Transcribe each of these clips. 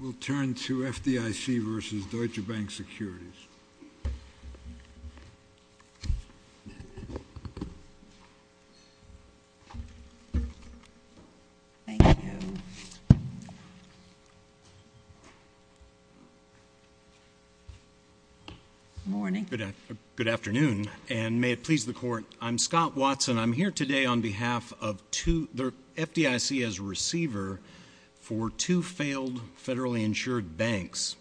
We'll turn to FDIC versus Deutsche Bank Securities. Good afternoon, and may it please the Court. I'm Scott Watson. I'm here today on behalf of two FDIC as receiver for two failed federally insured banks,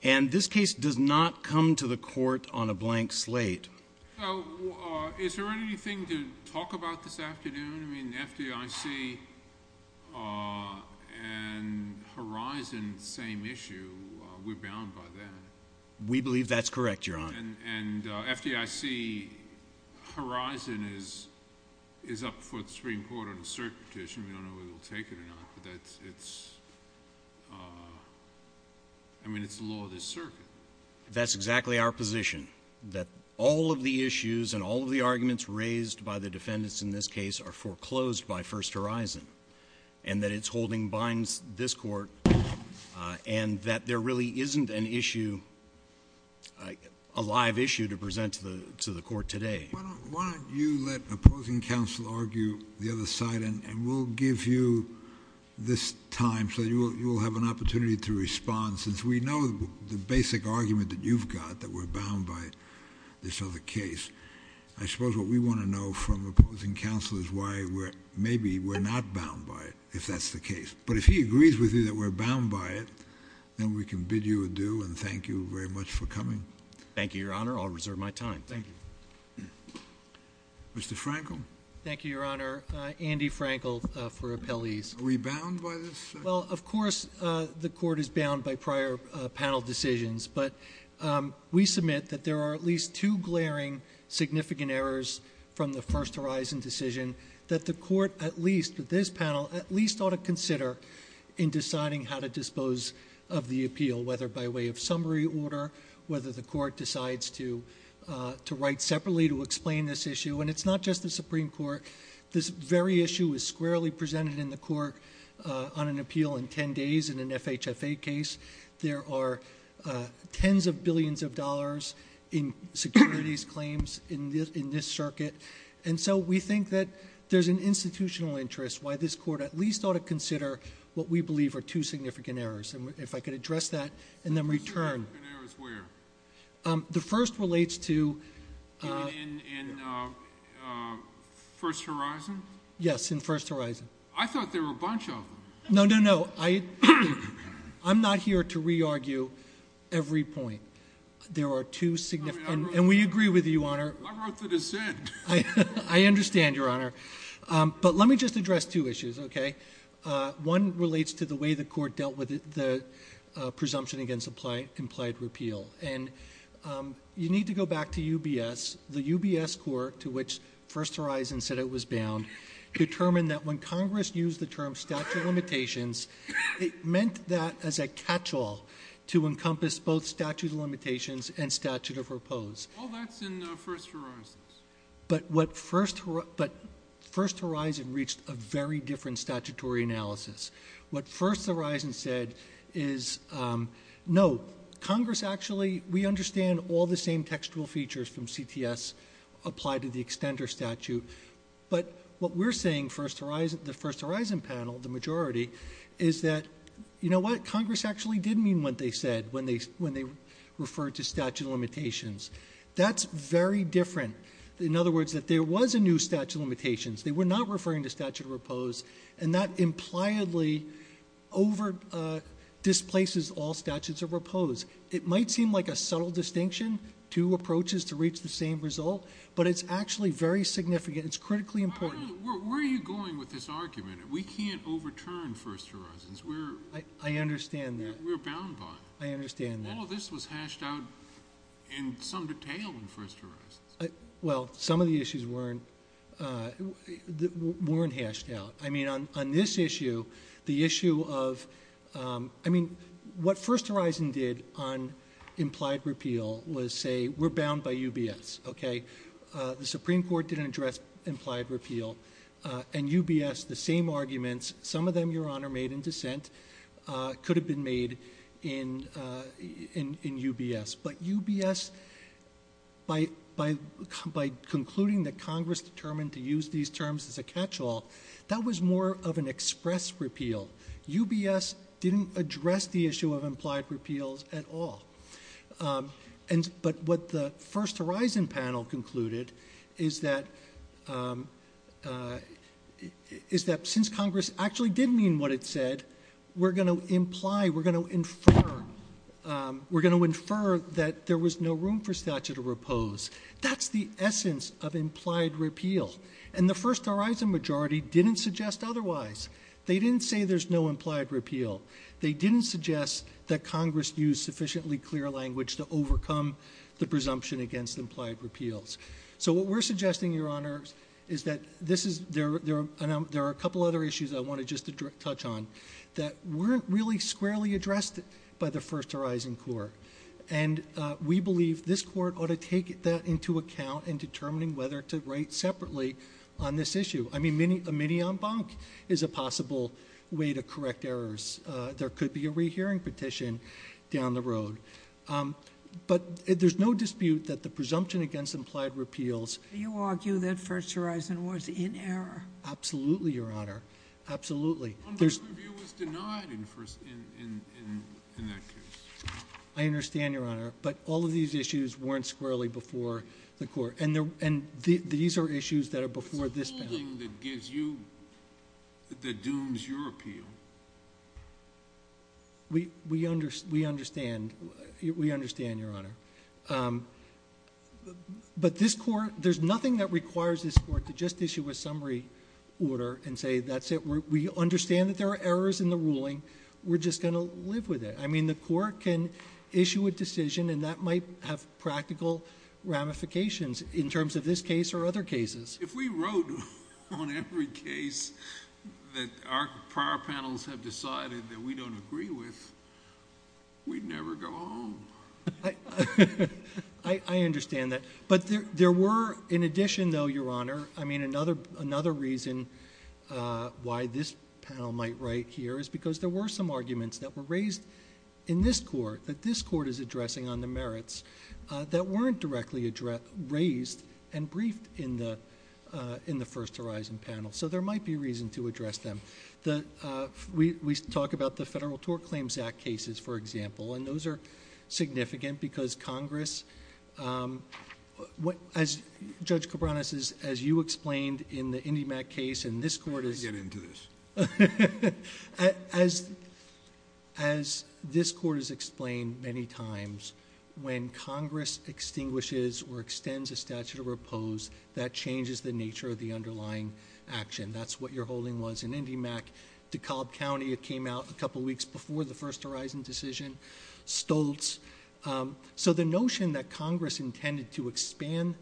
and this case does not come to the Court on a blank slate. Is there anything to talk about this afternoon? I mean, FDIC and Horizon, same issue. We're bound by that. We believe that's correct, Your Honor. And FDIC-Horizon is up for the Supreme Court on a cert petition. We don't know whether we'll take it or not, but that's, it's, I mean, it's the law of the circuit. That's exactly our position, that all of the issues and all of the arguments raised by the defendants in this case are foreclosed by First Horizon, and that its holding binds this Court, and that there really isn't an issue, a live issue to present to the Court today. Why don't you let opposing counsel argue the other side, and we'll give you this time so you will have an opportunity to respond, since we know the basic argument that you've got, that we're bound by this other case. I suppose what we want to know from opposing counsel is why maybe we're not bound by it, if that's the case. But if he agrees with you that we're bound by it, then we can bid you adieu and thank you very much for coming. Thank you, Your Honor. I'll reserve my time. Thank you. Mr. Frankel? Thank you, Your Honor. Andy Frankel for Appellees. Are we bound by this? Well, of course the Court is bound by prior panel decisions, but we submit that there are at least two glaring significant errors from the First Horizon decision that the Court, at least with this panel, at least ought to consider in deciding how to dispose of the appeal, whether by way of summary order, whether the Court decides to write separately to explain this issue. And it's not just the Supreme Court. This very issue is squarely presented in the Court on an appeal in ten days in an FHFA case. There are tens of billions of dollars in securities claims in this circuit. And so we think that there's an institutional interest, why this Court at least ought to consider what we believe are two significant errors. And if I could address that and then return. Two significant errors where? The first relates to... In First Horizon? Yes, in First Horizon. I thought there were a bunch of them. No, no, no. I'm not here to re-argue every point. There are two significant... And we agree with you, Your Honor. I wrote the dissent. I understand, Your Honor. But let me just address two issues, okay? One relates to the way the Court dealt with the presumption against implied repeal. And you need to go back to UBS. The UBS Court, to which First Horizon said it was bound, determined that when Congress used the term statute of limitations, it meant that as a catch-all to encompass both statute of limitations and statute of repose. All that's in First Horizon. But First Horizon reached a very different statutory analysis. What First Horizon said is, no, Congress actually... We understand all the same textual features from CTS apply to the extender statute. But what we're saying, the First Horizon panel, the majority, is that, you know what? Congress actually did mean what they said when they referred to statute of limitations. That's very different. In other words, that there was a new statute of limitations. They were not referring to statute of repose. And that impliedly over-displaces all statutes of repose. It might seem like a subtle distinction, two approaches to reach the same result, but it's actually very significant. It's critically important. Where are you going with this argument? We can't overturn First Horizons. I understand that. We're bound by it. I understand that. All of this was hashed out in some detail in First Horizons. Well, some of the issues weren't hashed out. I mean, on this issue, the issue of... I mean, what First Horizon did on implied repeal was say, we're bound by UBS, okay? The Supreme Court didn't address implied repeal. And UBS, the same arguments, some of them, Your Honor, made in dissent, could have been made in UBS. But UBS, by concluding that Congress determined to use these terms as a catch-all, that was more of an express repeal. UBS didn't address the issue of implied repeals at all. But what the First Horizon panel concluded is that since Congress actually did mean what it said, we're going to imply, we're going to infer that there was no room for statute of repose. That's the essence of implied repeal. And the First Horizon majority didn't suggest otherwise. They didn't say there's no implied repeal. They didn't suggest that Congress use sufficiently clear language to overcome the presumption against implied repeals. So what we're suggesting, Your Honor, is that there are a couple other issues I want to just touch on that weren't really squarely addressed by the First Horizon court. And we believe this court ought to take that into account in determining whether to write separately on this issue. I mean, a mini en banc is a possible way to correct errors. There could be a rehearing petition down the road. But there's no dispute that the presumption against implied repeals... Do you argue that First Horizon was in error? Absolutely, Your Honor. Absolutely. En banc review was denied in that case. I understand, Your Honor. But all of these issues weren't squarely before the court. And these are issues that are before this panel. It's the ruling that gives you, that dooms your appeal. We understand. We understand, Your Honor. But this court, there's nothing that requires this court to just issue a summary order and say that's it. We understand that there are errors in the ruling. We're just going to live with it. I mean, the court can issue a decision and that might have practical ramifications in terms of this case or other cases. If we wrote on every case that our prior panels have decided that we don't agree with, we'd never go home. I understand that. But there were, in addition though, Your Honor, I mean, another reason why this panel might write here is because there were some arguments that were raised in this court, that this court is addressing on the merits, that weren't directly raised and briefed in the First Horizon panel. So there might be reason to address them. We talk about the Federal Tort Claims Act cases, for example, and those are significant because Congress... Judge Cabranes, as you explained in the IndyMac case, and this court is... Let me get into this. As this court has explained many times, when Congress extinguishes or extends a statute of repose, that changes the nature of the underlying action. That's what your holding was in IndyMac. DeKalb County, it came out a couple of weeks before the First Horizon decision. Stoltz. So the notion that Congress intended to expand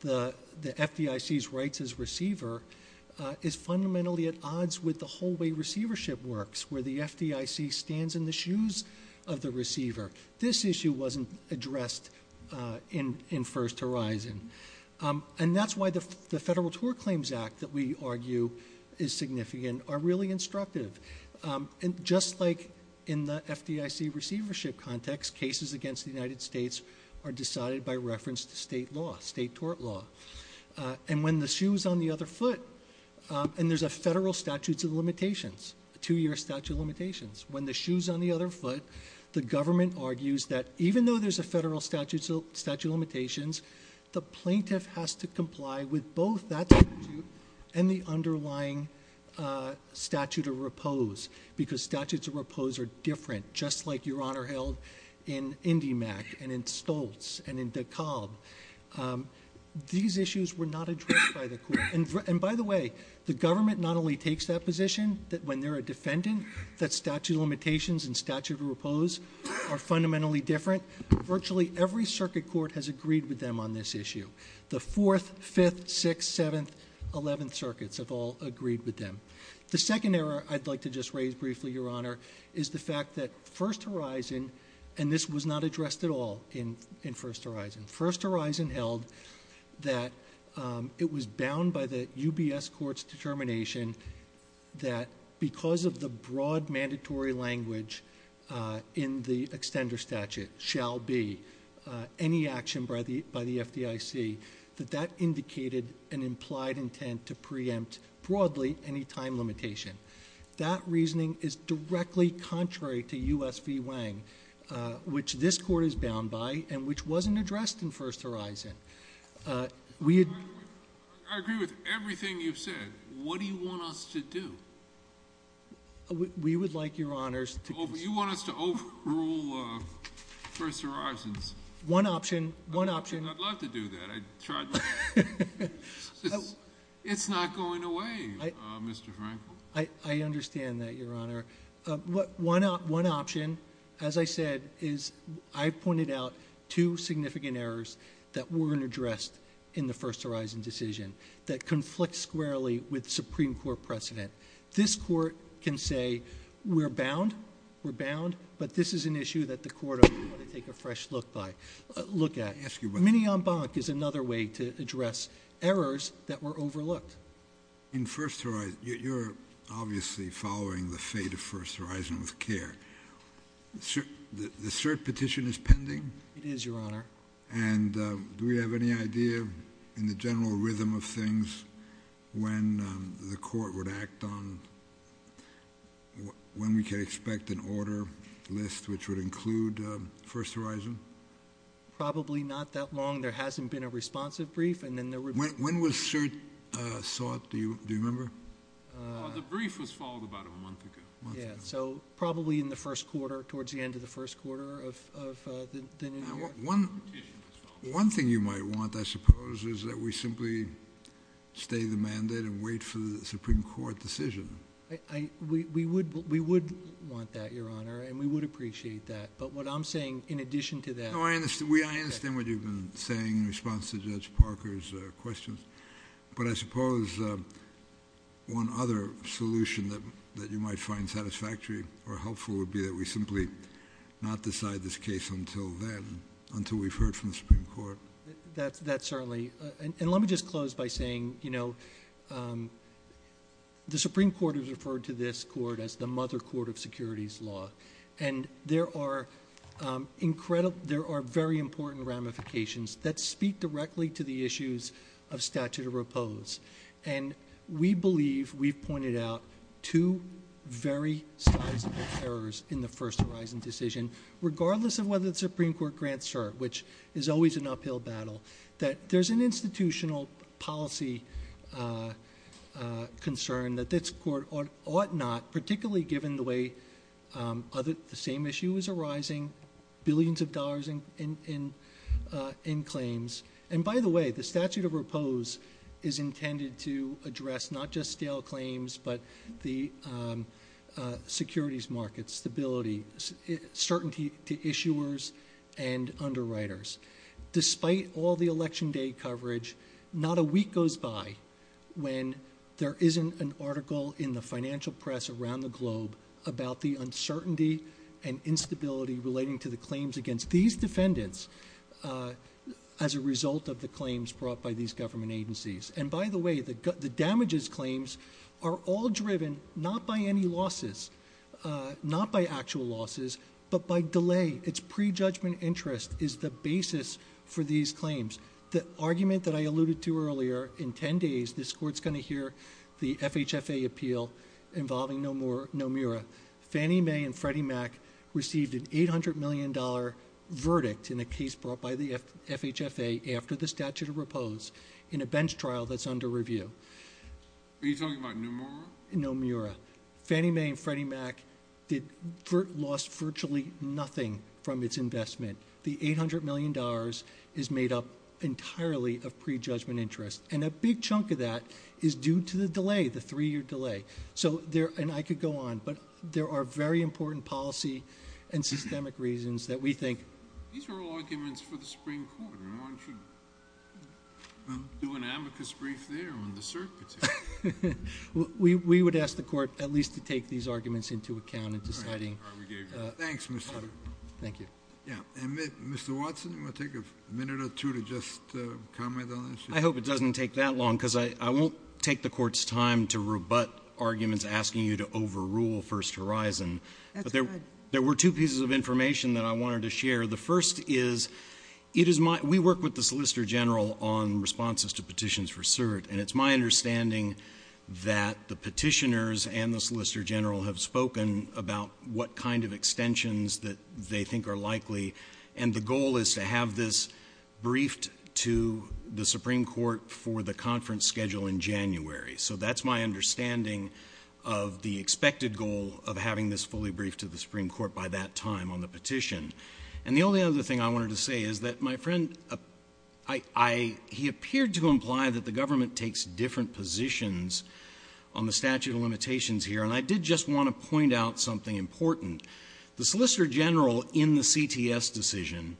the FDIC's rights as receiver is fundamentally at odds with the whole way receivership works, where the FDIC stands in the shoes of the receiver. This issue wasn't addressed in First Horizon. That's why the Federal Tort Claims Act, that we argue is significant, are really instructive. Just like in the FDIC receivership context, cases against the United States are decided by reference to state law, state tort law. When the shoe is on the other foot, and there's a federal statute of limitations, a two-year statute of limitations, when the shoe is on the other foot, the government argues that even though there's a federal statute of limitations, the plaintiff has to comply with both that statute and the underlying statute of repose, because statutes of repose are different, just like your Honor held in IndyMac and in Stoltz and in DeKalb. These issues were not addressed by the court. And by the way, the government not only takes that position, that when they're a defendant, that statute of limitations and statute of repose are fundamentally different. Virtually every circuit court has agreed with them on this issue. The 4th, 5th, 6th, 7th, 11th circuits have all agreed with them. The second error I'd like to just raise briefly, Your Honor, is the fact that First Horizon, and this was not addressed at all in First Horizon. First Horizon held that it was bound by the UBS court's determination that because of the broad mandatory language in the extender statute, shall be any action by the FDIC, that that indicated an implied intent to preempt, broadly, any time limitation. That reasoning is directly contrary to U.S. v. Wang, which this court is bound by and which wasn't addressed in First Horizon. I agree with everything you've said. What do you want us to do? We would like, Your Honors, to... You want us to overrule First Horizons. One option, one option. I'd love to do that. It's not going away, Mr. Frankl. I understand that, Your Honor. One option, as I said, is I pointed out two significant errors that weren't addressed in the First Horizon decision that conflict squarely with Supreme Court precedent. This court can say we're bound, we're bound, but this is an issue that the court ought to take a fresh look at. Mini en banc is another way to address errors that were overlooked. In First Horizon, you're obviously following the fate of First Horizon with care. The cert petition is pending? It is, Your Honor. And do we have any idea, in the general rhythm of things, when the court would act on when we can expect an order list which would include First Horizon? Probably not that long. There hasn't been a responsive brief, and then there would be... When was cert sought? Do you remember? The brief was followed about a month ago. So probably in the first quarter, towards the end of the first quarter of the new year. One thing you might want, I suppose, is that we simply stay the mandate and wait for the Supreme Court decision. We would want that, Your Honor, and we would appreciate that. But what I'm saying, in addition to that... No, I understand what you've been saying in response to Judge Parker's questions. But I suppose one other solution that you might find satisfactory or helpful would be that we simply not decide this case until then, until we've heard from the Supreme Court. That's certainly... And let me just close by saying, you know, the Supreme Court has referred to this court as the mother court of securities law. And there are very important ramifications that speak directly to the issues of statute of repose. And we believe, we've pointed out, two very sizable errors in the First Horizon decision, regardless of whether the Supreme Court grants cert, which is always an uphill battle, that there's an institutional policy concern that this court ought not, particularly given the way the same issue is arising, billions of dollars in claims. And by the way, the statute of repose is intended to address not just stale claims, but the securities markets, stability, certainty to issuers and underwriters. Despite all the Election Day coverage, not a week goes by when there isn't an article in the financial press around the globe about the uncertainty and instability relating to the claims against these defendants as a result of the claims brought by these government agencies. And by the way, the damages claims are all driven not by any losses, not by actual losses, but by delay. It's prejudgment interest is the basis for these claims. The argument that I alluded to earlier, in 10 days, this court's going to hear the FHFA appeal involving Nomura. Fannie Mae and Freddie Mac received an $800 million verdict in a case brought by the FHFA after the statute of repose in a bench trial that's under review. Are you talking about Nomura? Nomura. Fannie Mae and Freddie Mac lost virtually nothing from its investment. The $800 million is made up entirely of prejudgment interest, and a big chunk of that is due to the delay, the three-year delay. And I could go on, but there are very important policy and systemic reasons that we think. These are all arguments for the Supreme Court, and one should do an amicus brief there on the circuits. We would ask the court at least to take these arguments into account in deciding. Thanks, Mr. Potter. Thank you. Yeah. And, Mr. Watson, you want to take a minute or two to just comment on this? I hope it doesn't take that long, because I won't take the court's time to rebut arguments asking you to overrule First Horizon. That's fine. There were two pieces of information that I wanted to share. The first is we work with the Solicitor General on responses to petitions for cert, and it's my understanding that the petitioners and the Solicitor General have spoken about what kind of extensions that they think are likely, and the goal is to have this briefed to the Supreme Court for the conference schedule in January. So that's my understanding of the expected goal of having this fully briefed to the Supreme Court by that time on the petition. And the only other thing I wanted to say is that my friend, he appeared to imply that the government takes different positions on the statute of limitations here, and I did just want to point out something important. The Solicitor General in the CTS decision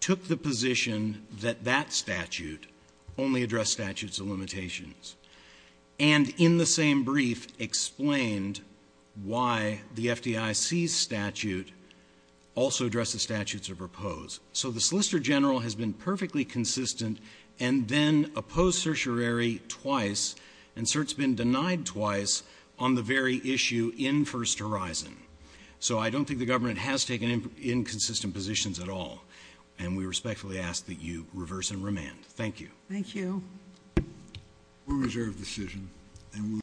took the position that that statute only addressed statutes of limitations and in the same brief explained why the FDIC's statute also addresses statutes of repose. So the Solicitor General has been perfectly consistent and then opposed certiorari twice, and cert's been denied twice on the very issue in First Horizon. So I don't think the government has taken inconsistent positions at all, and we respectfully ask that you reverse and remand. Thank you. Thank you.